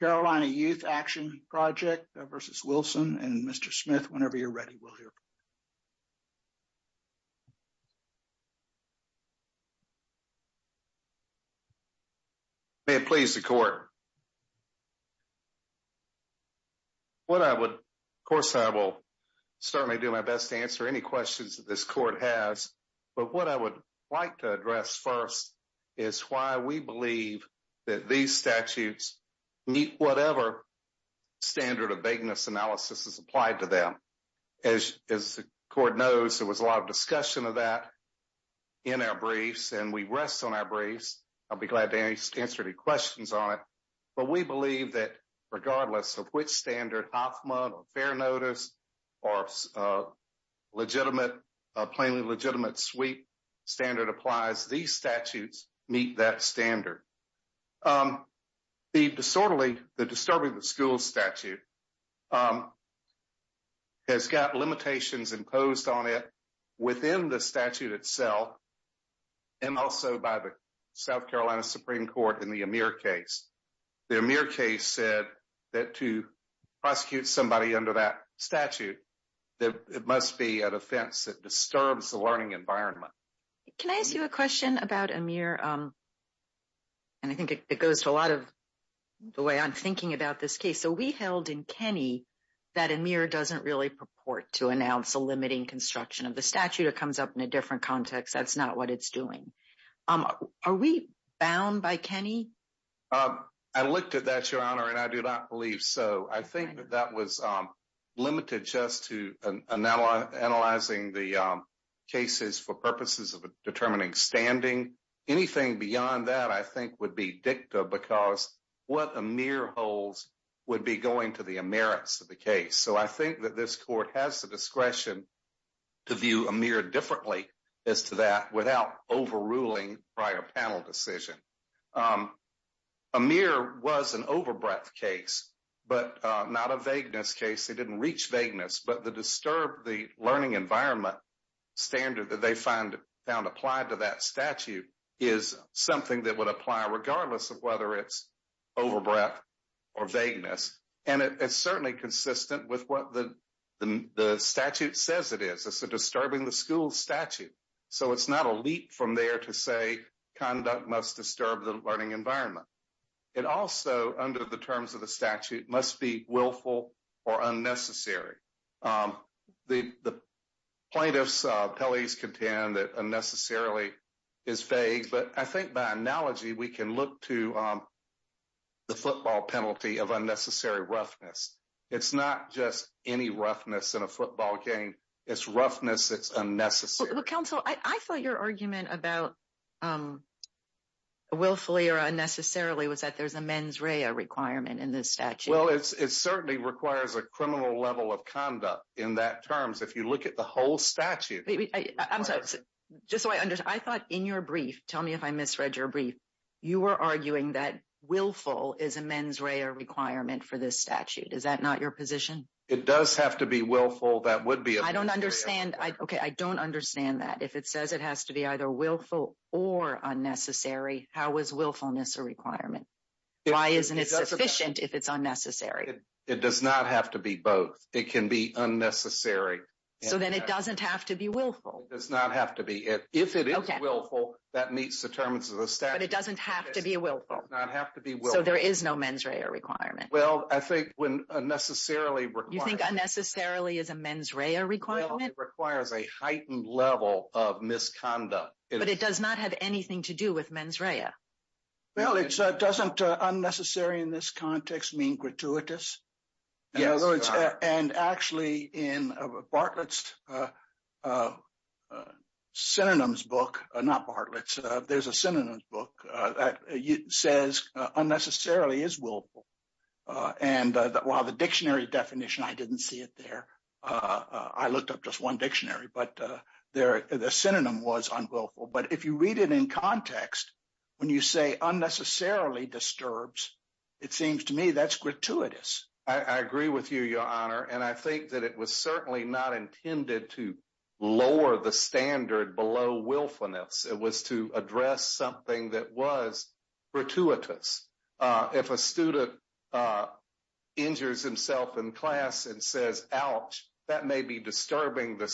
Carolina Youth Action Project v. Wilson. And Mr. Smith, whenever you're ready, we'll hear. May it please the Court. Of course, I will certainly do my best to answer any questions that this Court has. But what I would like to address first is why we believe that these statutes meet whatever standard of vagueness analysis is applied to them. As the Court knows, there was a lot of discussion of that in our briefs, and we rest on our briefs. I'll be glad to answer any questions on it. But we believe that regardless of which standard, OFMA or fair notice or plainly legitimate sweep standard applies, these statutes meet that standard. The disorderly, the disturbing the school statute has got limitations imposed on it within the statute itself and also by the South Carolina Supreme Court in the Amir case. The Amir case said that to prosecute somebody under that statute, it must be an offense that disturbs the learning environment. Can I ask you a question about Amir? And I think it goes to a lot of the way I'm thinking about this case. So, we held in Kenny that Amir doesn't really purport to announce a limiting construction of the statute. It comes up in a different context. That's not what it's doing. Are we bound by Kenny? Um, I looked at that, Your Honor, and I do not believe so. I think that that was limited just to analyzing the cases for purposes of determining standing. Anything beyond that, I think, would be dicta because what Amir holds would be going to the Amerits of the case. So, I think that this Court has the discretion to view Amir differently as to that without overruling prior panel decision. Amir was an overbreath case, but not a vagueness case. It didn't reach vagueness, but the disturbed the learning environment standard that they found applied to that statute is something that would apply regardless of whether it's overbreath or vagueness. And it's certainly consistent with what the statute says it is. It's a disturbing the school statute. So, it's not a leap from there to say conduct must disturb the learning environment. It also, under the terms of the statute, must be willful or unnecessary. The plaintiffs' pellies contend that unnecessarily is vague, but I think by analogy, we can look to the football penalty of unnecessary roughness. It's not just any roughness in a football game. It's roughness that's unnecessary. But counsel, I thought your argument about willfully or unnecessarily was that there's a mens rea requirement in this statute. Well, it certainly requires a criminal level of conduct in that terms. If you look at the whole statute. Just so I understand, I thought in your brief, tell me if I misread your brief, you were arguing that willful is a mens rea requirement for this statute. Is that not your position? It does have to be willful. That would be a mens rea requirement. I don't understand that. If it says it has to be either willful or unnecessary, how is willfulness a requirement? Why isn't it sufficient if it's unnecessary? It does not have to be both. It can be unnecessary. So, then it doesn't have to be willful. It does not have to be. If it is willful, that meets the terms of the statute. But it doesn't have to be willful. It does not have to be willful. So, there is no mens rea requirement. Well, I think when unnecessarily requires. You think unnecessarily is a mens rea requirement? It requires a heightened level of misconduct. But it does not have anything to do with mens rea. Well, it doesn't unnecessary in this context mean gratuitous? Yes. And actually in Bartlett's synonyms book, not Bartlett's, there's a synonyms book that says unnecessarily is willful. And while the dictionary definition, I didn't see it there. I looked up just one dictionary. But the synonym was unwillful. But if you read it in context, when you say unnecessarily disturbs, it seems to me that's gratuitous. I agree with you, Your Honor. And I think that it was certainly not intended to lower the standard below willfulness. It was to address something that was gratuitous. If a student injures himself in class and says, ouch, that may be disturbing the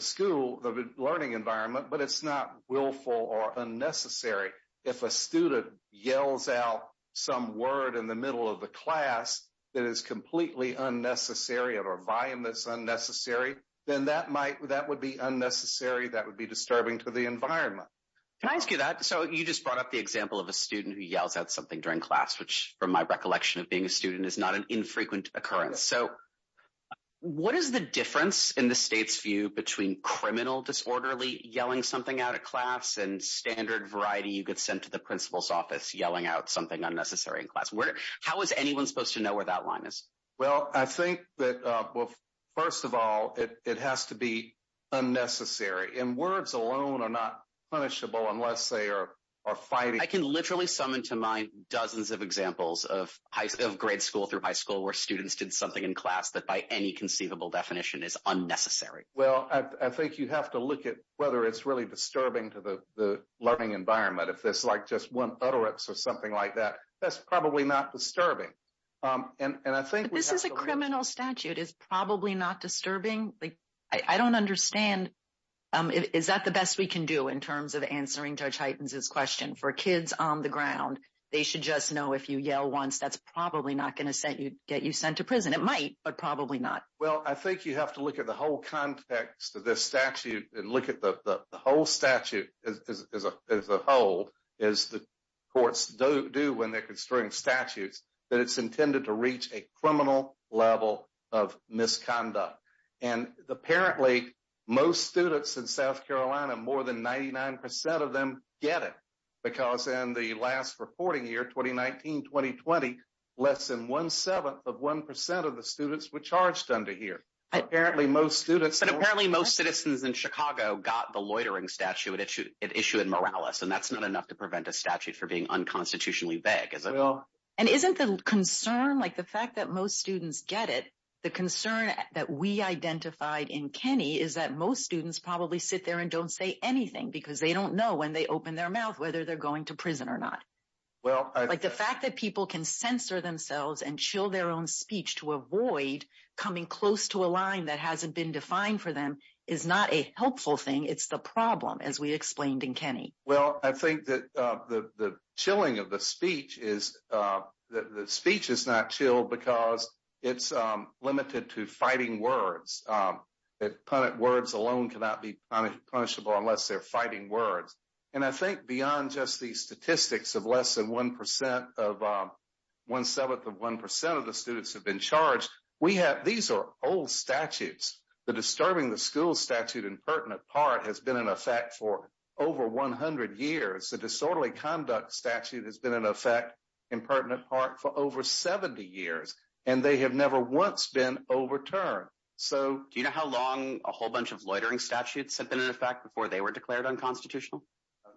school, the learning environment, but it's not willful or unnecessary. If a student yells out some word in the middle of the class that is completely unnecessary or a volume that's unnecessary, then that might, that would be unnecessary. That would be disturbing to the environment. Can I ask you that? So you just brought up the example of a student who yells out something during class, which from my recollection of being a student is not an infrequent occurrence. So what is the difference in the state's view between criminal disorderly yelling something out of class and standard variety you get sent to the principal's office yelling out something unnecessary in class? How is anyone supposed to know where that line is? Well, I think that, well, first of all, it has to be unnecessary. And words alone are not punishable unless they are fighting. I can literally summon to mind dozens of examples of grade school through high school where students did something in class that by any conceivable definition is unnecessary. Well, I think you have to look at whether it's really disturbing to the learning environment. If it's like just one utterance or something like that, that's probably not disturbing. But this is a criminal statute. It's probably not disturbing. I don't understand. Is that the best we can do in terms of answering Judge Heitens' question? For kids on the ground, they should just know if you yell once, that's probably not going to get you sent to prison. It might, but probably not. Well, I think you have to look at the whole context of this statute and look at the whole as the courts do when they're construing statutes, that it's intended to reach a criminal level of misconduct. And apparently, most students in South Carolina, more than 99% of them get it. Because in the last reporting year, 2019, 2020, less than one-seventh of 1% of the students were charged under here. And apparently, most citizens in Chicago got the loitering statute. It issued moralis. And that's not enough to prevent a statute for being unconstitutionally vague, is it? And isn't the concern, like the fact that most students get it, the concern that we identified in Kenny is that most students probably sit there and don't say anything because they don't know when they open their mouth whether they're going to prison or not. The fact that people can censor themselves and chill their own speech to avoid coming close to a line that hasn't been defined for them is not a helpful thing. It's the problem, as we explained in Kenny. Well, I think that the chilling of the speech is that the speech is not chilled because it's limited to fighting words. Words alone cannot be punishable unless they're fighting words. And I think beyond just these statistics of less than one-seventh of 1% of the students have been charged, these are old statutes. The disturbing the school statute in pertinent part has been in effect for over 100 years. The disorderly conduct statute has been in effect in pertinent part for over 70 years, and they have never once been overturned. So- Do you know how long a whole bunch of loitering statutes have been in effect before they were declared unconstitutional?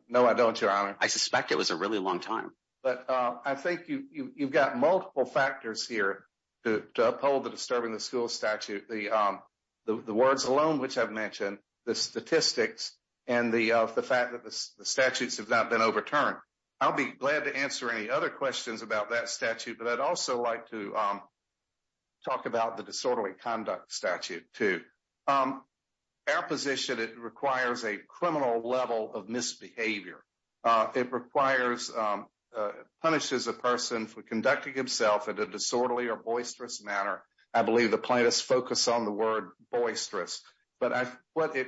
No, I don't, Your Honor. I suspect it was a really long time. But I think you've got multiple factors here to uphold the disturbing the school statute. The words alone, which I've mentioned, the statistics, and the fact that the statutes have not been overturned. I'll be glad to answer any other questions about that statute, but I'd also like to talk about the disorderly conduct statute too. Our position, it requires a criminal level of misbehavior. It requires, punishes a person for conducting himself in a disorderly or boisterous manner. I believe the plaintiffs focus on the word boisterous. But what it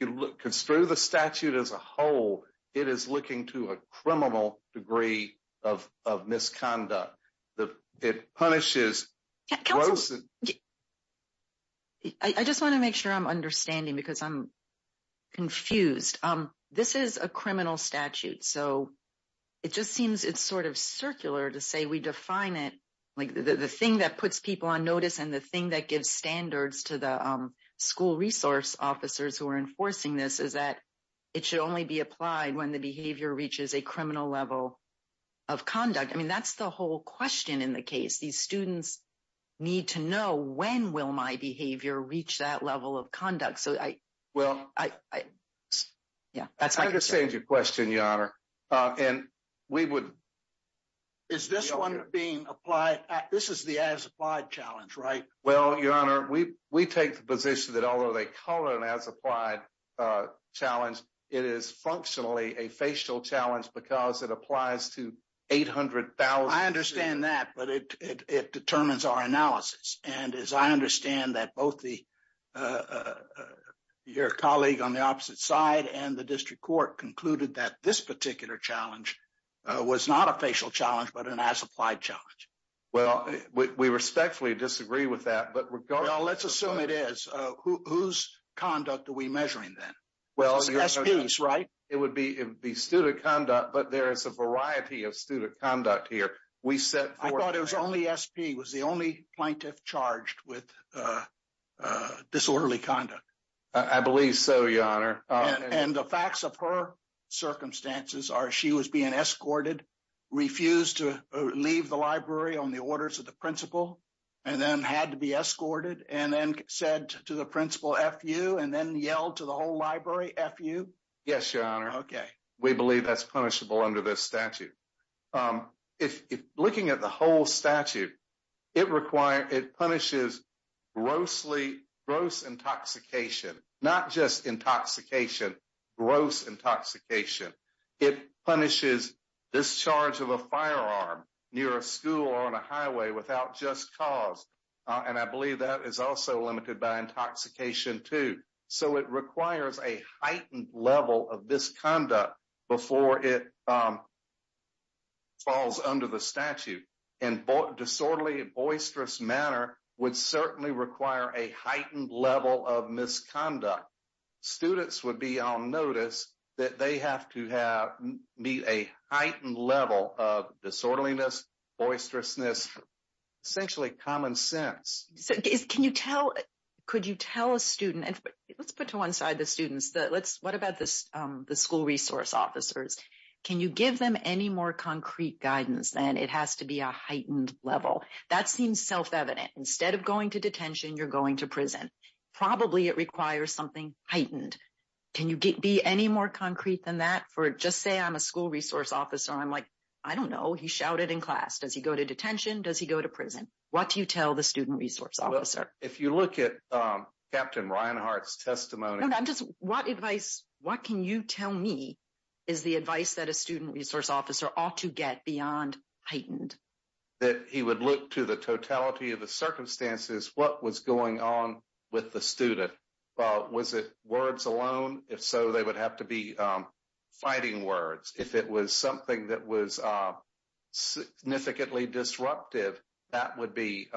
looks through the statute as a whole, it is looking to a criminal degree of misconduct. It punishes- Counselor, I just want to make sure I'm understanding because I'm confused. This is a criminal statute. So it just seems it's sort of circular to say we define it, like the thing that puts people on notice and the thing that gives standards to the school resource officers who are enforcing this is that it should only be applied when the behavior reaches a criminal level of conduct. I mean, that's the whole question in the case. These students need to know when will my behavior reach that level of conduct. So I- Well- Yeah, that's my concern. I understand your question, Your Honor. And we would- This is the as-applied challenge, right? Well, Your Honor, we take the position that although they call it an as-applied challenge, it is functionally a facial challenge because it applies to 800,000- I understand that, but it determines our analysis. And as I understand that both your colleague on the opposite side and the district court concluded that this particular challenge was not a facial challenge, but an as-applied challenge. Well, we respectfully disagree with that, but regardless- Well, let's assume it is. Whose conduct are we measuring then? Well, Your Honor- It's SP's, right? It would be student conduct, but there is a variety of student conduct here. We set forth- I thought it was only SP. It was the only plaintiff charged with disorderly conduct. I believe so, Your Honor. And the facts of her circumstances are she was being escorted, refused to leave the library on the orders of the principal, and then had to be escorted, and then said to the principal, F-you, and then yelled to the whole library, F-you? Yes, Your Honor. Okay. We believe that's punishable under this statute. Looking at the whole statute, it punishes gross intoxication, not just intoxication, gross intoxication. It punishes discharge of a firearm near a school or on a highway without just cause. And I believe that is also limited by intoxication, too. So it requires a heightened level of misconduct before it falls under the statute. And disorderly, boisterous manner would certainly require a heightened level of misconduct. Students would be on notice that they have to meet a heightened level of disorderliness, boisterousness, essentially common sense. Can you tell- Could you tell a student- Let's put to one side the students. What about the school resource officers? Can you give them any more concrete guidance? And it has to be a heightened level. That seems self-evident. Instead of going to detention, you're going to prison. Probably it requires something heightened. Can you be any more concrete than that? Just say I'm a school resource officer. I'm like, I don't know. He shouted in class. Does he go to detention? Does he go to prison? What do you tell the student resource officer? If you look at Captain Reinhardt's testimony- No, I'm just- What advice, what can you tell me is the advice that a student resource officer ought to get beyond heightened? That he would look to the totality of the circumstances. What was going on with the student? Was it words alone? If so, they would have to be fighting words. If it was something that was significantly disruptive, that would be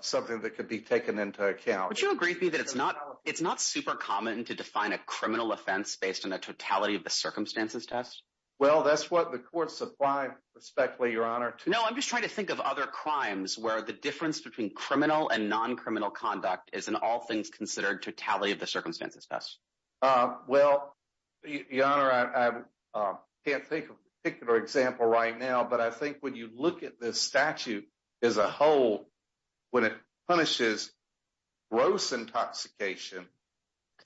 something that could be taken into account. Would you agree with me that it's not super common to define a criminal offense based on the totality of the circumstances test? Well, that's what the courts apply, respectfully, Your Honor, to- I'm just trying to think of other crimes where the difference between criminal and non-criminal conduct is in all things considered totality of the circumstances test. Well, Your Honor, I can't think of a particular example right now, but I think when you look at this statute as a whole, when it punishes gross intoxication,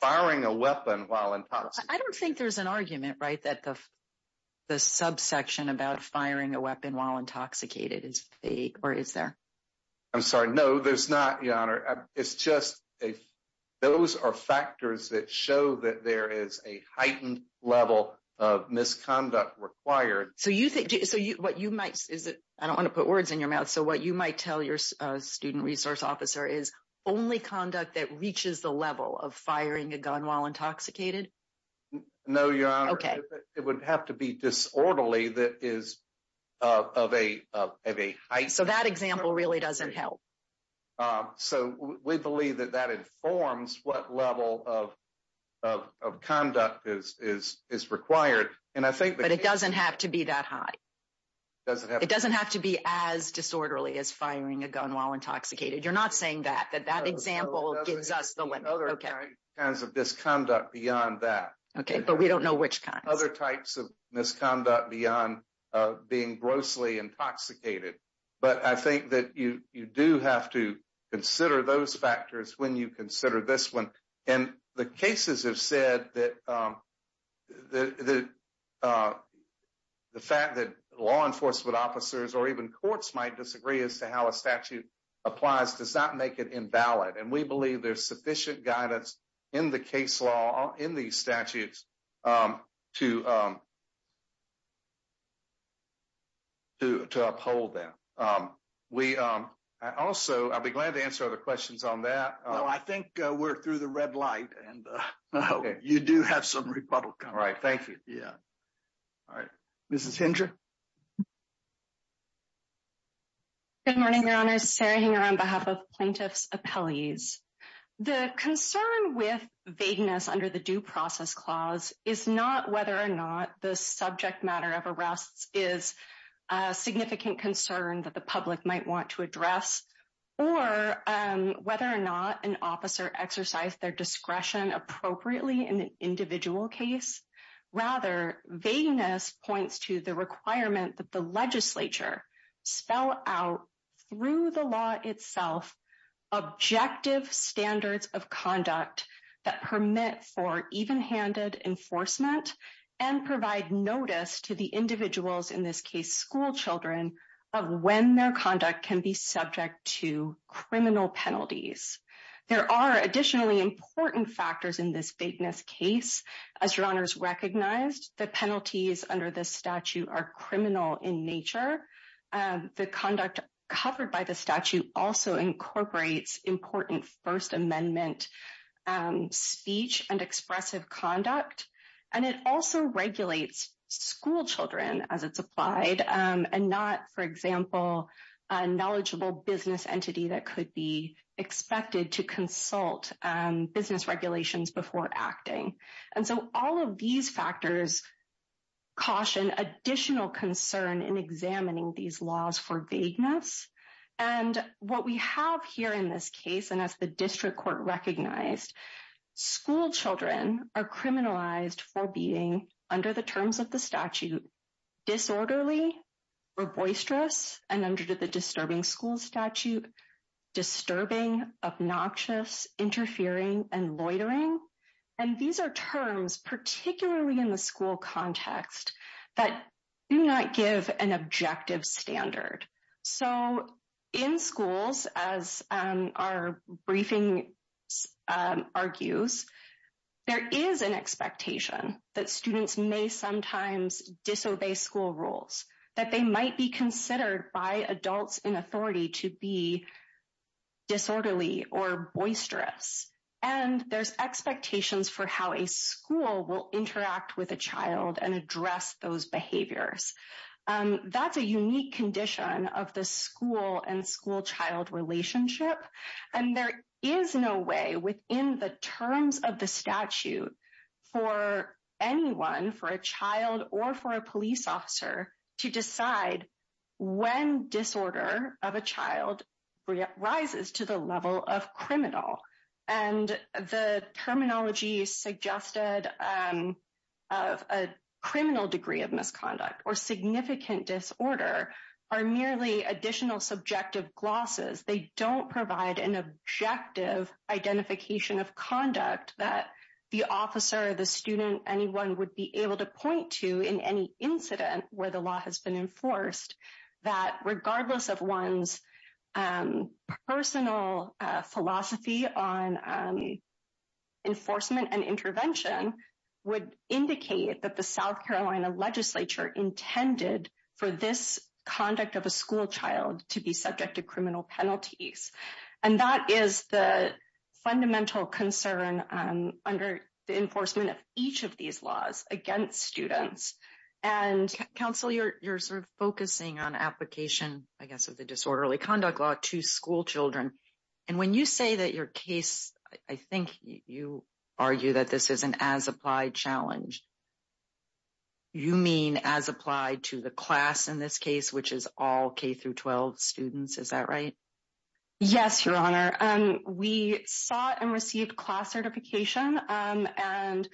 firing a weapon while intoxicated- I don't think there's an argument, right, that the subsection about firing a weapon while intoxicated is fake or is there? I'm sorry. No, there's not, Your Honor. It's just those are factors that show that there is a heightened level of misconduct required. So what you might- I don't want to put words in your mouth. So what you might tell your student resource officer is only conduct that reaches the level of firing a gun while intoxicated? No, Your Honor. Okay. It would have to be disorderly that is of a height- So that example really doesn't help. So we believe that that informs what level of conduct is required. And I think- But it doesn't have to be that high. It doesn't have to be as disorderly as firing a gun while intoxicated. You're not saying that, that that example gives us the limit. There are other kinds of misconduct beyond that. Okay, but we don't know which kind. Other types of misconduct beyond being grossly intoxicated. But I think that you do have to consider those factors when you consider this one. And the cases have said that the fact that law enforcement officers or even courts might disagree as to how a statute applies does not make it invalid. And we believe there's sufficient guidance in the case law, in these statutes to uphold that. We also, I'll be glad to answer other questions on that. No, I think we're through the red light and you do have some rebuttal coming. All right, thank you. Yeah. All right. Mrs. Hinder? Good morning, Your Honor. Sarah Hinder on behalf of plaintiff's appellees. The concern with vagueness under the due process clause is not whether or not the subject matter of arrests is a significant concern that the public might want to address. Or whether or not an officer exercise their discretion appropriately in an individual case. Rather, vagueness points to the requirement that the legislature spell out through the law itself, objective standards of conduct that permit for even handed enforcement and provide notice to the individuals in this case school children of when their conduct can be subject to criminal penalties. There are additionally important factors in this vagueness case. As Your Honors recognized, the penalties under this statute are criminal in nature. The conduct covered by the statute also incorporates important First Amendment speech and expressive conduct. And it also regulates school children as it's applied and not, for example, a knowledgeable business entity that could be expected to consult business regulations before acting. So all of these factors caution additional concern in examining these laws for vagueness. And what we have here in this case, and as the district court recognized, school children are criminalized for being under the terms of the statute, disorderly, or boisterous, and under the disturbing school statute, disturbing, obnoxious, interfering, and loitering. And these are terms, particularly in the school context, that do not give an objective standard. So in schools, as our briefing argues, there is an expectation that students may sometimes disobey school rules, that they might be considered by adults in authority to be disorderly or boisterous. And there's expectations for how a school will interact with a child and address those behaviors. That's a unique condition of the school and school-child relationship. And there is no way within the terms of the statute for anyone, for a child or for a police officer, to decide when disorder of a child rises to the level of criminal. And the terminology suggested of a criminal degree of misconduct or significant disorder are merely additional subjective glosses. They don't provide an objective identification of conduct that the where the law has been enforced, that regardless of one's personal philosophy on enforcement and intervention would indicate that the South Carolina legislature intended for this conduct of a school child to be subject to criminal penalties. And that is the fundamental concern under the enforcement of each of these laws against students. And counsel, you're sort of focusing on application, I guess, of the disorderly conduct law to school children. And when you say that your case, I think you argue that this is an as-applied challenge. You mean as applied to the class in this case, which is all K-12 students, is that right? Yes, Your Honor. We sought and received class certification and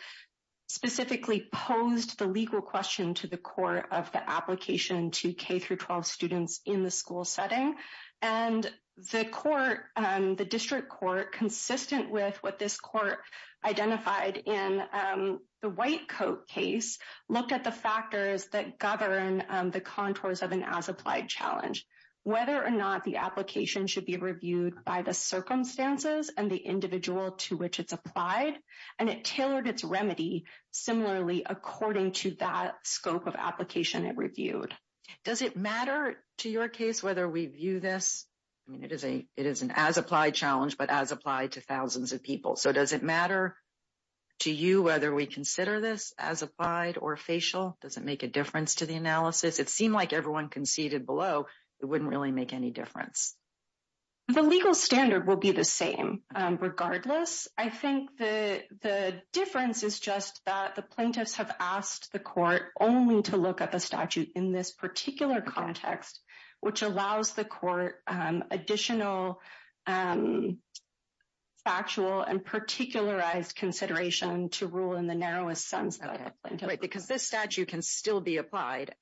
specifically posed the legal question to the court of the application to K-12 students in the school setting. And the court, the district court, consistent with what this court identified in the White Coat case, looked at the factors that govern the contours of an as-applied challenge. Whether or not the application should be reviewed by the circumstances and the individual to which it's applied. And it tailored its remedy similarly according to that scope of application it reviewed. Does it matter to your case whether we view this? I mean, it is an as-applied challenge, but as applied to thousands of people. So, does it matter to you whether we consider this as applied or facial? Does it make a difference to the analysis? It seemed like everyone conceded below it wouldn't really make any difference. The legal standard will be the same regardless. I think the difference is just that the plaintiffs have asked the court only to look at the statute in this particular context, which allows the court additional factual and particularized consideration to rule in the narrowest sense. Right, because this statute can still be applied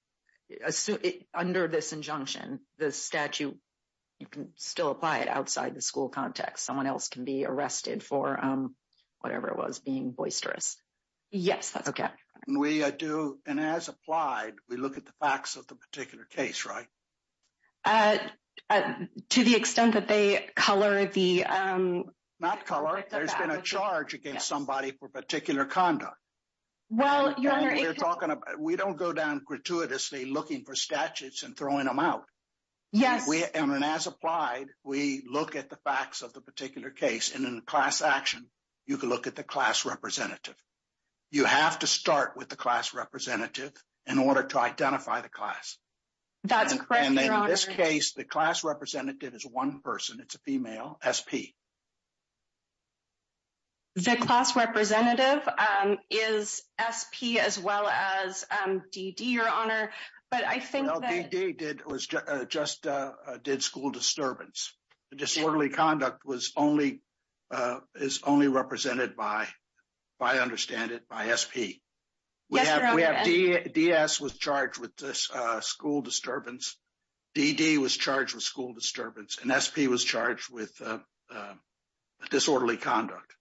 as under this injunction, the statute, you can still apply it outside the school context. Someone else can be arrested for whatever it was being boisterous. Yes, that's okay. We do, and as applied, we look at the facts of the particular case, right? To the extent that they color the- Not color, there's been a charge against somebody for particular conduct. We don't go down gratuitously looking for statutes and throwing them out. And as applied, we look at the facts of the particular case, and in class action, you can look at the class representative. You have to start with the class representative in order to identify the class. That's correct, Your Honor. And in this case, the class representative is one person. It's a female, SP. The class representative is SP as well as DD, Your Honor, but I think that- Well, DD just did school disturbance. The disorderly conduct is only represented by, I understand it, by SP. Yes, Your Honor, and- DS was charged with school disturbance. DD was charged with school disturbance, and SP was charged with disorderly conduct.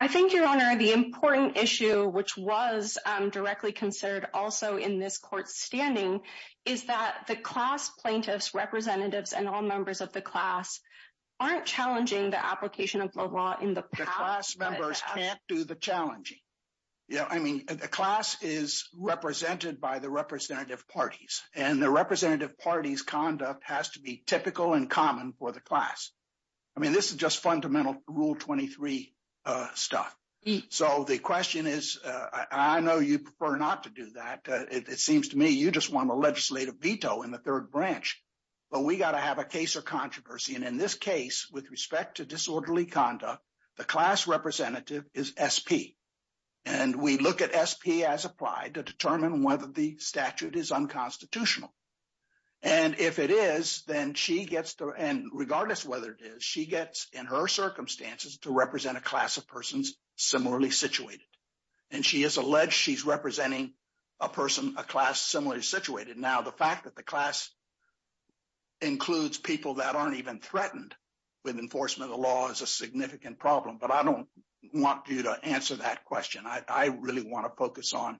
I think, Your Honor, the important issue, which was directly considered also in this court's standing, is that the class plaintiffs, representatives, and all members of the class aren't challenging the application of the law in the past. The class members can't do the challenging. I mean, the class is represented by the representative parties, and the representative party's conduct has to be typical and common for the class. I mean, this is just fundamental Rule 23 stuff. So, the question is, I know you prefer not to do that. It seems to me you just want a legislative veto in the third branch, but we got to have a case of controversy. And in this case, with respect to disorderly conduct, the class representative is SP. And we look at SP as regardless of whether it is, she gets, in her circumstances, to represent a class of persons similarly situated. And she has alleged she's representing a person, a class similarly situated. Now, the fact that the class includes people that aren't even threatened with enforcement of the law is a significant problem. But I don't want you to answer that question. I really want to focus on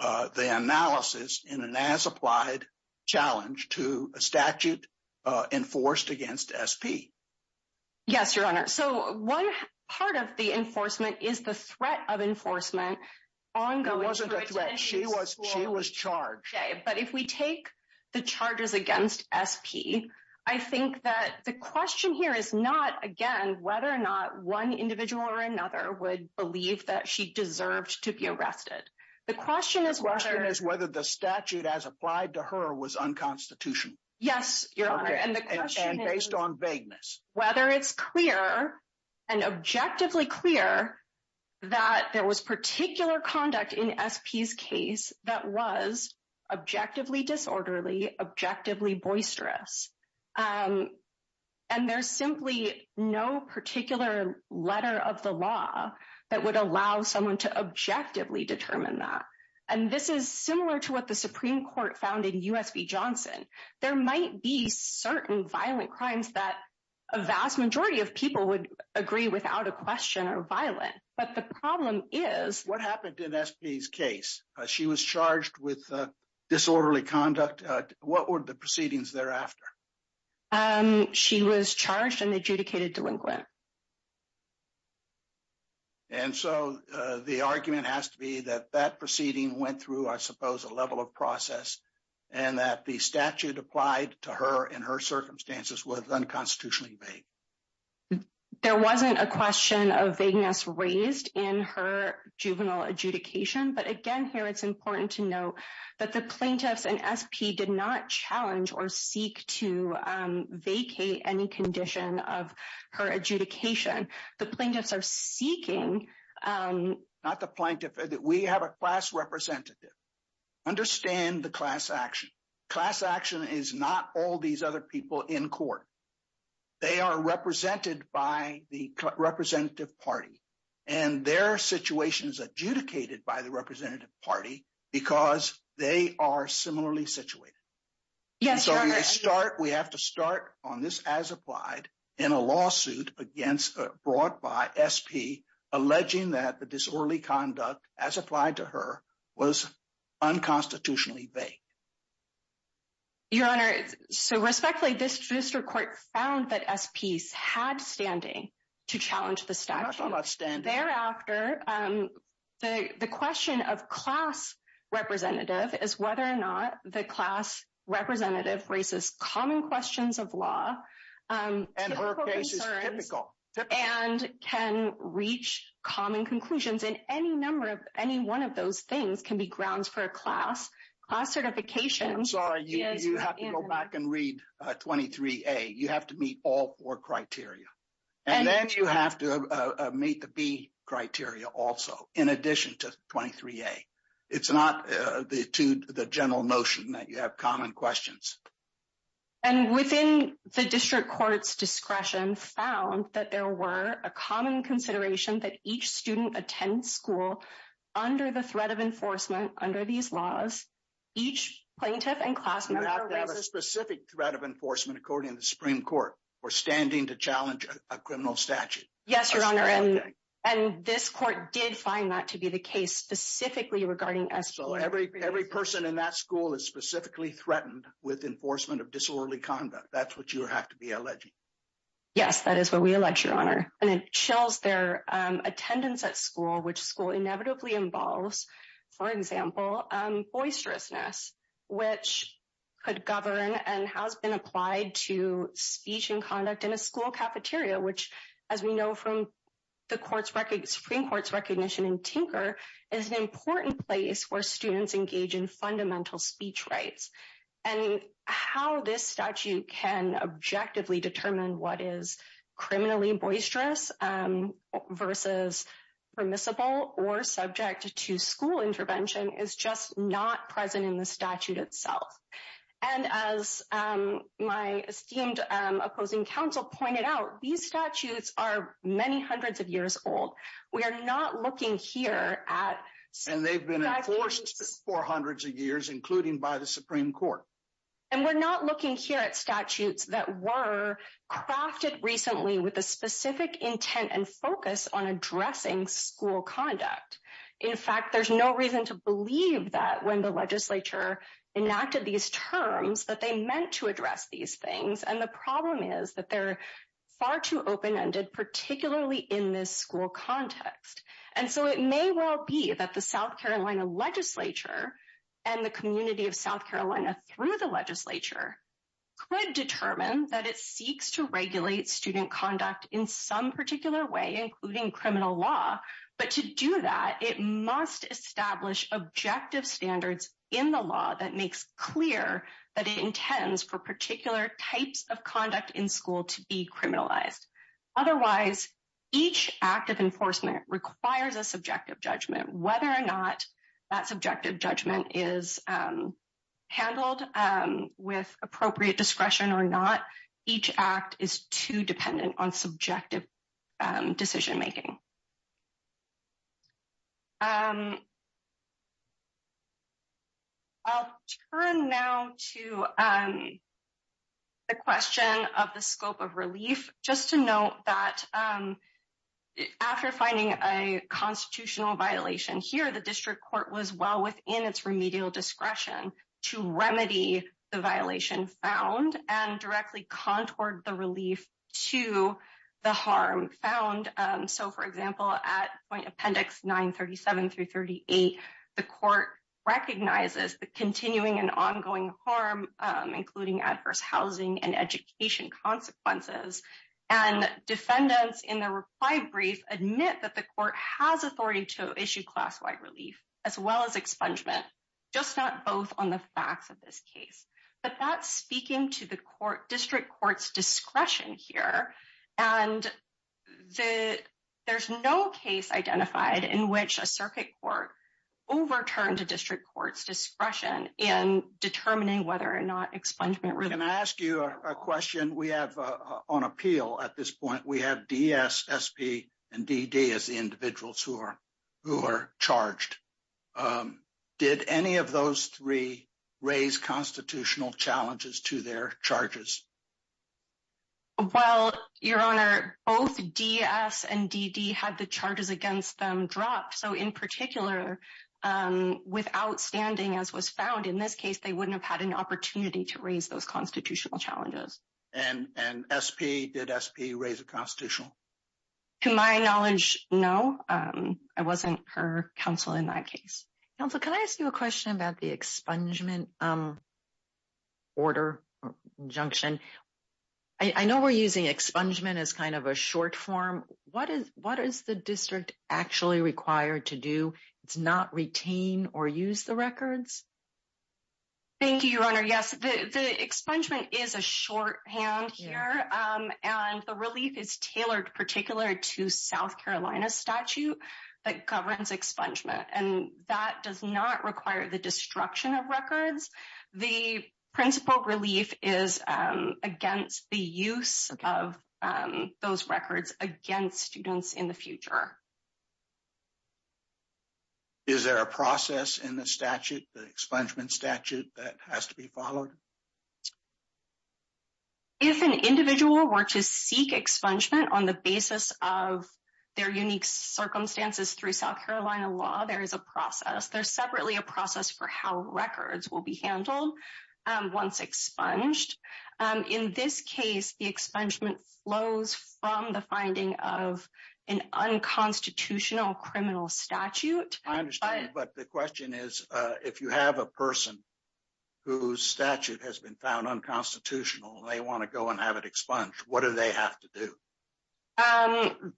the analysis in an as-applied challenge to a statute enforced against SP. Yes, Your Honor. So, one part of the enforcement is the threat of enforcement ongoing. It wasn't a threat. She was charged. Okay. But if we take the charges against SP, I think that the question here is not, again, whether or not one individual or another would believe that she deserved to be arrested. The question is whether... The question is whether the statute as applied to her was unconstitutional. Yes, Your Honor. And the question is... And based on vagueness. Whether it's clear and objectively clear that there was particular conduct in SP's case that was objectively disorderly, objectively boisterous. And there's simply no particular letter of the law that would allow someone to objectively determine that. And this is similar to what the Supreme Court found in USB Johnson. There might be certain violent crimes that a vast majority of people would agree without a question are violent. But the problem is... She was charged with disorderly conduct. What were the proceedings thereafter? She was charged and adjudicated delinquent. And so, the argument has to be that that proceeding went through, I suppose, a level of process and that the statute applied to her and her circumstances was unconstitutionally vague. There wasn't a question of vagueness raised in her juvenile adjudication. But again, it's important to note that the plaintiffs in SP did not challenge or seek to vacate any condition of her adjudication. The plaintiffs are seeking... Not the plaintiff. We have a class representative. Understand the class action. Class action is not all these other people in court. They are represented by the representative party. And their situation is adjudicated by the representative party because they are similarly situated. So, we have to start on this as applied in a lawsuit brought by SP alleging that the disorderly conduct as applied to her was unconstitutionally vague. Your Honor, so respectfully, this district court found that SPs had standing to challenge the standard. Thereafter, the question of class representative is whether or not the class representative raises common questions of law. And her case is typical. And can reach common conclusions in any number of any one of those things can be grounds for a class class certification. I'm sorry, you have to go back and read 23A. You have to meet all four criteria also, in addition to 23A. It's not to the general notion that you have common questions. And within the district court's discretion found that there were a common consideration that each student attends school under the threat of enforcement under these laws. Each plaintiff and class member... We have a specific threat of enforcement according to the Supreme Court or standing to challenge a criminal statute. Yes, Your Honor. And this court did find that to be the case specifically regarding SP. So, every person in that school is specifically threatened with enforcement of disorderly conduct. That's what you have to be alleging. Yes, that is what we allege, Your Honor. And it shows their attendance at school, which school inevitably involves, for example, boisterousness, which could govern and has been applied to speech and conduct in a school cafeteria, which, as we know from the Supreme Court's recognition in Tinker, is an important place where students engage in fundamental speech rights. And how this statute can objectively determine what is criminally boisterous versus permissible or subject to school intervention is just not present in the statute itself. And as my esteemed opposing counsel pointed out, these statutes are many hundreds of years old. We are not looking here at... And they've been enforced for hundreds of years, including by the Supreme Court. And we're not looking here at statutes that were crafted recently with a specific intent and focus on addressing school conduct. In fact, there's no reason to believe that when the legislature enacted these terms that they meant to address these things. And the problem is that they're far too open-ended, particularly in this school context. And so, it may well be that the South Carolina legislature and the community of South Carolina through the legislature could determine that it seeks to regulate student conduct in some particular way, including criminal law. But to do that, it must establish objective standards in the law that makes clear that it intends for particular types of conduct in school to be criminalized. Otherwise, each act of enforcement requires a subjective judgment. Whether or not that subjective judgment is handled with appropriate discretion or not, each act is too dependent on subjective decision-making. I'll turn now to the question of the scope of relief. Just to note that after finding a constitutional violation here, the district court was well within its remedial discretion to remedy the violation found and directly contoured the relief to the harm found. So, for example, at point appendix 937 through 38, the court recognizes the continuing and ongoing harm, including adverse housing and education consequences. And defendants in the reply brief admit that the court has authority to issue class-wide relief as well as expungement, just not both on the facts of this case. But that's speaking to the district court's discretion here. And there's no case identified in which a circuit court overturned a district court's discretion in determining whether or not expungement relief... the individuals who are charged. Did any of those three raise constitutional challenges to their charges? Well, Your Honor, both DS and DD had the charges against them dropped. So, in particular, without standing as was found in this case, they wouldn't have had an opportunity to raise those constitutional challenges. And SP, did SP raise a constitutional? To my knowledge, no. I wasn't her counsel in that case. Counsel, can I ask you a question about the expungement order or injunction? I know we're using expungement as kind of a short form. What is the district actually required to do? It's not retain or use the records? Thank you, Your Honor. Yes, the expungement is a shorthand here. And the relief is tailored particular to South Carolina statute that governs expungement. And that does not require the destruction of records. The principal relief is against the use of those records against students in the future. Is there a process in the statute, the expungement statute that has to be followed? If an individual were to seek expungement on the basis of their unique circumstances through South Carolina law, there is a process. There's separately a process for how records will be handled once expunged. In this case, the expungement flows from the finding of an unconstitutional criminal statute. I understand, but the question is, if you have a person whose statute has been found unconstitutional, they want to go and have it expunged, what do they have to do?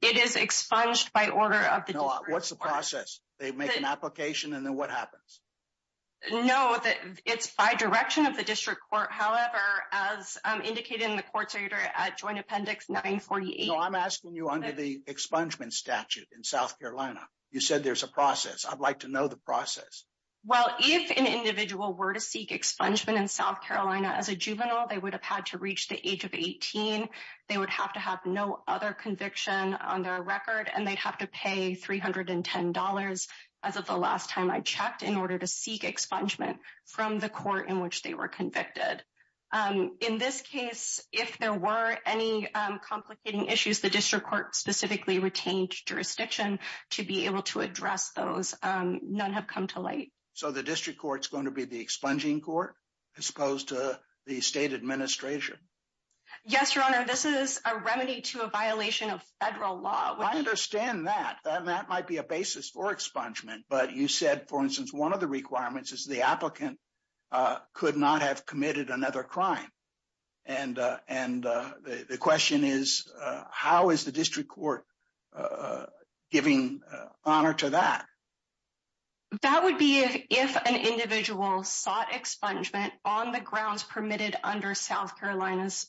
It is expunged by order of the district court. What's the process? They make an application and then what happens? No, it's by direction of the district court. However, as indicated in the court's order at joint appendix 948- No, I'm asking you under the expungement statute in South Carolina. You said there's a process. I'd like to know the process. Well, if an individual were to seek expungement in South Carolina as a juvenile, they would have had to reach the age of 18. They would have to have no other conviction on their record and they'd have to pay $310 as of the last time I checked in order to seek expungement from the court in which they were convicted. In this case, if there were any complicating issues, the district court specifically retained jurisdiction to be able to address those. None have come to light. The district court's going to be the expunging court as opposed to the state administration? Yes, Your Honor. This is a remedy to a violation of federal law. I understand that. That might be a basis for expungement, but you said, for instance, one of the requirements is the applicant could not have committed another crime. And the question is, how is the district court giving honor to that? That would be if an individual sought expungement on the grounds permitted under South Carolina's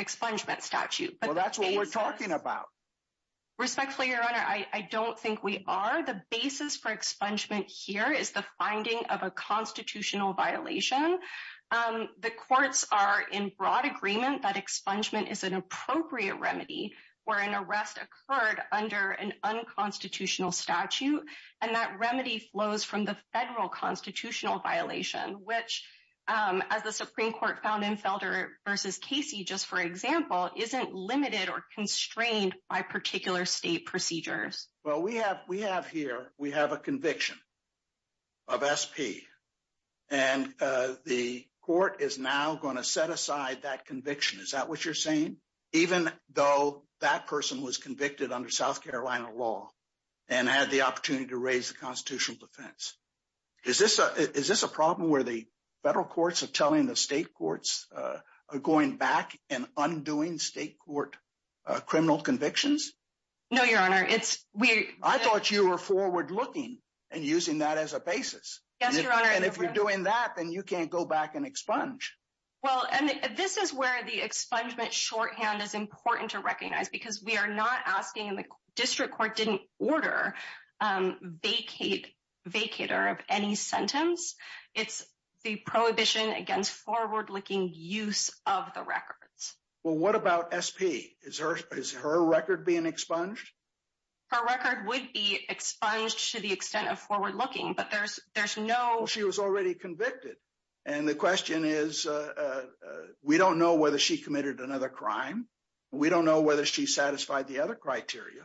expungement statute. Well, that's what we're talking about. Respectfully, Your Honor, I don't think we are. The basis for expungement here is the finding of a constitutional violation. The courts are in broad agreement that expungement is an appropriate remedy where an arrest occurred under an unconstitutional statute. And that remedy flows from the federal constitutional violation, which as the Supreme Court found in Felder versus Casey, just for example, isn't limited or constrained by particular state procedures. Well, we have here, we have a conviction of SP. And the court is now going to set aside that conviction. Is that what you're saying? Even though that person was convicted under South Carolina law and had the opportunity to raise the constitutional defense. Is this a problem where the federal courts are telling the state courts are going back and undoing state criminal convictions? No, Your Honor, it's weird. I thought you were forward looking and using that as a basis. Yes, Your Honor. And if you're doing that, then you can't go back and expunge. Well, and this is where the expungement shorthand is important to recognize because we are not asking the district court didn't order vacator of any sentence. It's the prohibition against forward looking use of the records. Well, what about SP? Is her record being expunged? Her record would be expunged to the extent of forward looking, but there's no... Well, she was already convicted. And the question is, we don't know whether she committed another crime. We don't know whether she satisfied the other criteria.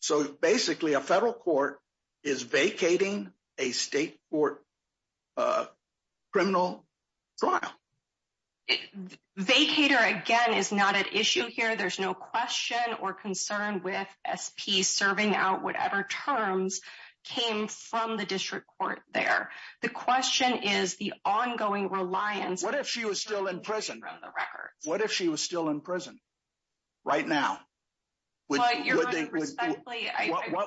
So basically a federal court is vacating a state court criminal trial. A vacator, again, is not an issue here. There's no question or concern with SP serving out whatever terms came from the district court there. The question is the ongoing reliance. What if she was still in prison? What if she was still in prison right now? What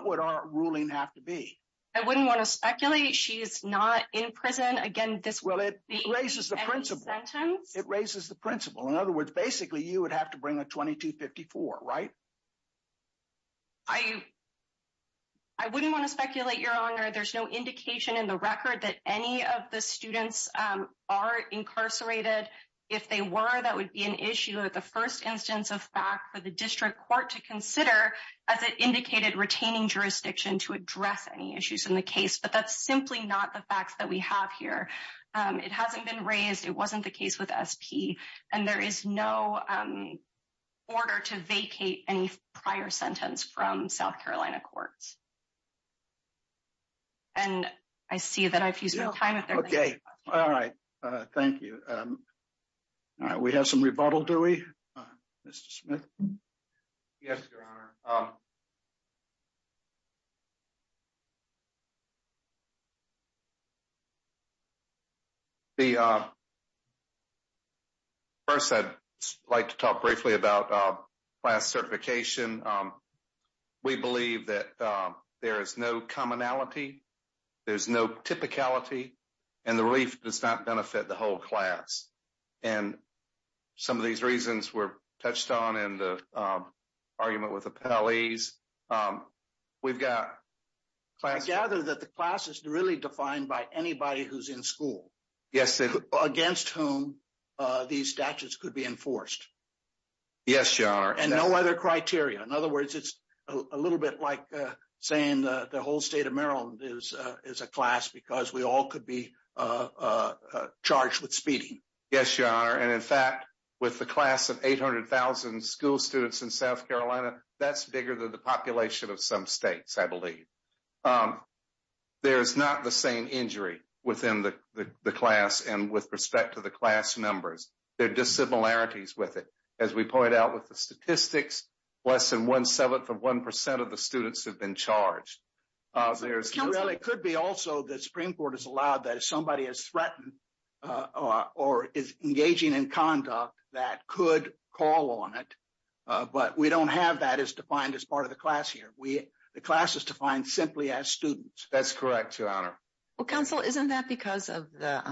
would our ruling have to be? I wouldn't want to speculate. She's not in prison. Again, it raises the principle. It raises the principle. In other words, basically, you would have to bring a 2254, right? I wouldn't want to speculate, Your Honor. There's no indication in the record that any of the students are incarcerated. If they were, that would be an issue at the first instance of fact for the district court to consider as it indicated retaining jurisdiction to address any issues in the case. But that's simply not the facts that we have here. It hasn't been raised. It wasn't the case with SP. And there is no order to vacate any prior sentence from South Carolina courts. And I see that I've used my time up there. Okay. All right. Thank you. All right. We have some rebuttal, do we, Mr. Smith? Yes, Your Honor. First, I'd like to talk briefly about class certification. We believe that there is no commonality. There's no typicality. And the relief does not benefit the whole class. And some of these reasons were touched on in the argument with appellees. We've got class- I gather that the class is really defined by anybody who's in school against whom these statutes could be enforced. Yes, Your Honor. And no other criteria. In other words, it's a little bit like saying the whole state of Yes, Your Honor. And in fact, with the class of 800,000 school students in South Carolina, that's bigger than the population of some states, I believe. There's not the same injury within the class. And with respect to the class numbers, there are dissimilarities with it. As we point out with the statistics, less than one-seventh of 1% of the students have been charged. There's- Well, it could be also the Supreme Court has allowed that if somebody is threatened or is engaging in conduct that could call on it. But we don't have that as defined as part of the class here. The class is defined simply as students. That's correct, Your Honor. Well, Counsel, isn't that because of the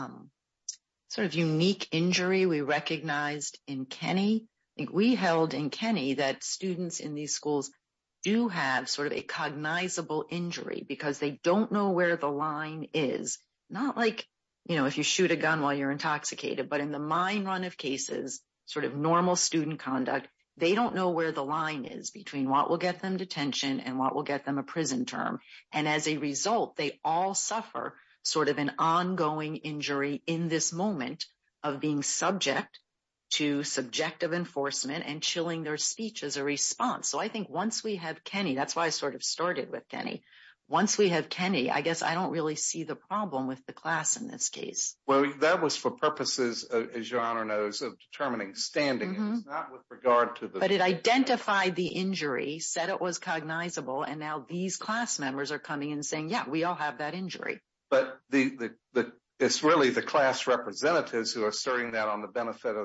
sort of unique injury we recognized in Kenny? We held that students in these schools do have sort of a cognizable injury because they don't know where the line is. Not like if you shoot a gun while you're intoxicated, but in the mine run of cases, sort of normal student conduct, they don't know where the line is between what will get them detention and what will get them a prison term. And as a result, they all suffer sort of an ongoing injury in this moment of being subject to subjective enforcement and chilling their speech as a response. So I think once we have Kenny, that's why I sort of started with Kenny. Once we have Kenny, I guess I don't really see the problem with the class in this case. Well, that was for purposes, as Your Honor knows, of determining standing. It's not with regard to the- But it identified the injury, said it was cognizable, and now these class But it's really the class representatives who are asserting that on the benefit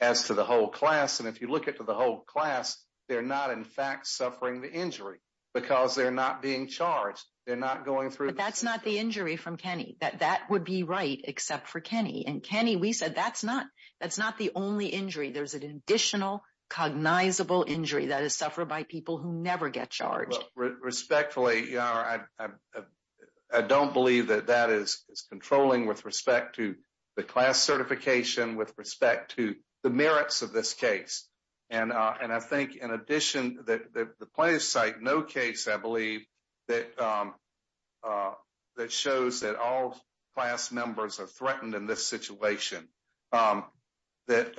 as to the whole class. And if you look at the whole class, they're not, in fact, suffering the injury because they're not being charged. They're not going through- But that's not the injury from Kenny. That would be right except for Kenny. And Kenny, we said that's not the only injury. There's an additional cognizable injury that is suffered by people who never get charged. Respectfully, Your Honor, I don't believe that that is controlling with respect to the class certification, with respect to the merits of this case. And I think, in addition, that the plaintiffs cite no case, I believe, that shows that all class members are threatened in this situation. That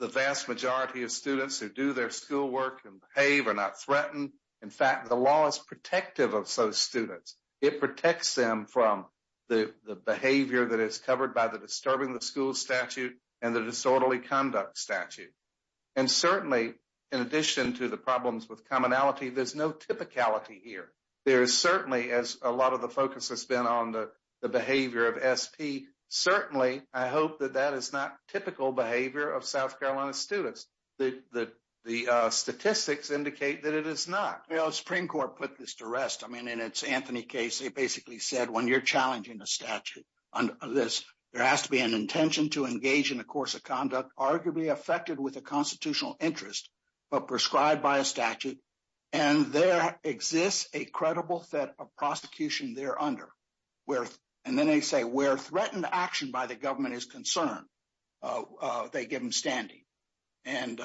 the vast majority of students who do their schoolwork and behave are not threatened. In fact, the law is protective of those students. It protects them from the behavior that is covered by the disturbing the school statute and the disorderly conduct statute. And certainly, in addition to the problems with commonality, there's no typicality here. There is certainly, as a lot of the focus has been on the behavior of SP, certainly, I hope that that is not typical behavior of South Carolina students. The statistics indicate that it is not. The Supreme Court put this to rest. I mean, in its Anthony case, they basically said, when you're challenging the statute on this, there has to be an intention to engage in a course of conduct arguably affected with a constitutional interest, but prescribed by a statute. And there exists a credible set of prosecution there under. And then they say, where threatened action by the government is concerned, they give them standing. And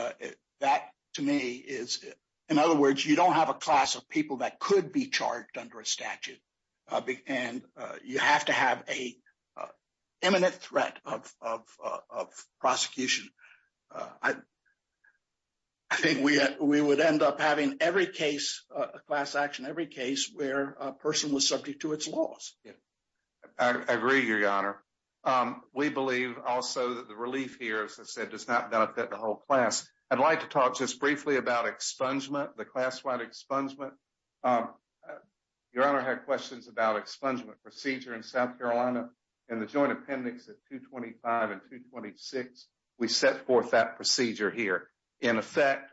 that, to me, is, in other words, you don't have a class of people that could be charged under a statute. And you have to have a imminent threat of prosecution. I think we would end up having every case, class action, every case where a person was subject to its laws. I agree, Your Honor. We believe also that the relief here, as I said, does not benefit the whole class. I'd like to talk just briefly about expungement, the class-wide expungement. Your Honor had questions about expungement procedure in South Carolina. In the joint appendix at 225 and 226, we set forth that procedure here. In effect,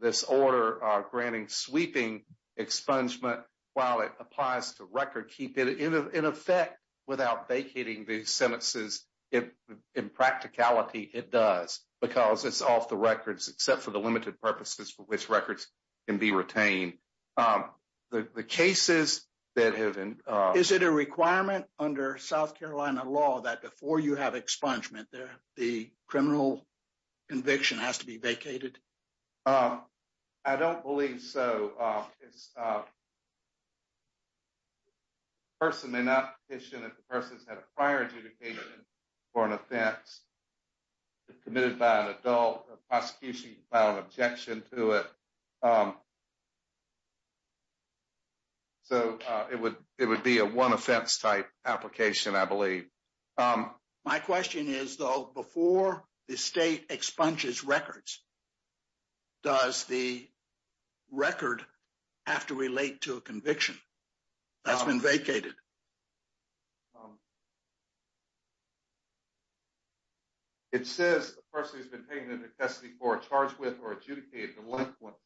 this order granting sweeping expungement, while it applies to record, keep it in effect without vacating these sentences. In practicality, it does, because it's off the records except for the limited purposes for which records can be retained. The cases that have been- Is it a requirement under South Carolina law that before you have expungement there, the criminal conviction has to be vacated? I don't believe so. A person may not petition if the person's had a prior adjudication for an offense committed by an adult, a prosecution filed an objection to it. So, it would be a one offense type application, I believe. My question is, though, before the state expunges records, does the record have to relate to a conviction that's been vacated? It says the person has been taken into custody for a charge with or adjudicated delinquent.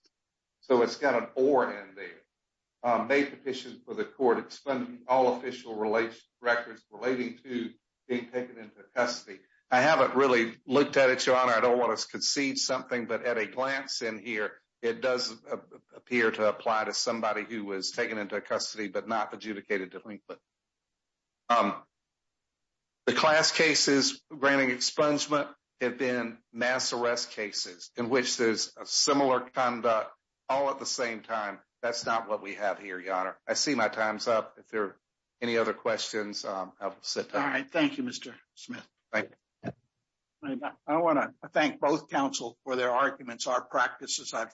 So, it's got an or in there. May petition for the court expunging all official records relating to being taken into custody. I haven't really looked at it, Your Honor. I don't want to concede something, but at a glance in here, it does appear to apply to somebody who was taken into custody but not adjudicated delinquent. The class cases granting expungement have been mass arrest cases in which there's a similar conduct all at the same time. That's not what we have here, Your Honor. I see my time's up. If there are any other questions, I'll sit down. Thank you, Mr. Smith. I want to thank both counsel for their arguments. Our practices, I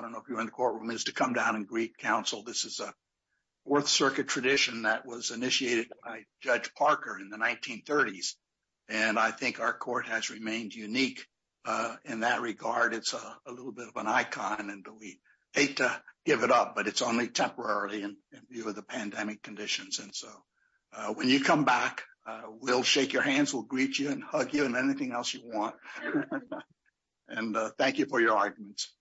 don't know if you're in the courtroom, is to come down and greet counsel. This is a Fourth Circuit tradition that was initiated by Judge Parker in the 1930s. I think our court has remained unique in that regard. It's a little bit of an icon and we hate to give it up, but it's only temporarily in view of the pandemic conditions. So when you come back, we'll shake your hands, we'll greet you and hug you and anything else you want. Thank you for your arguments.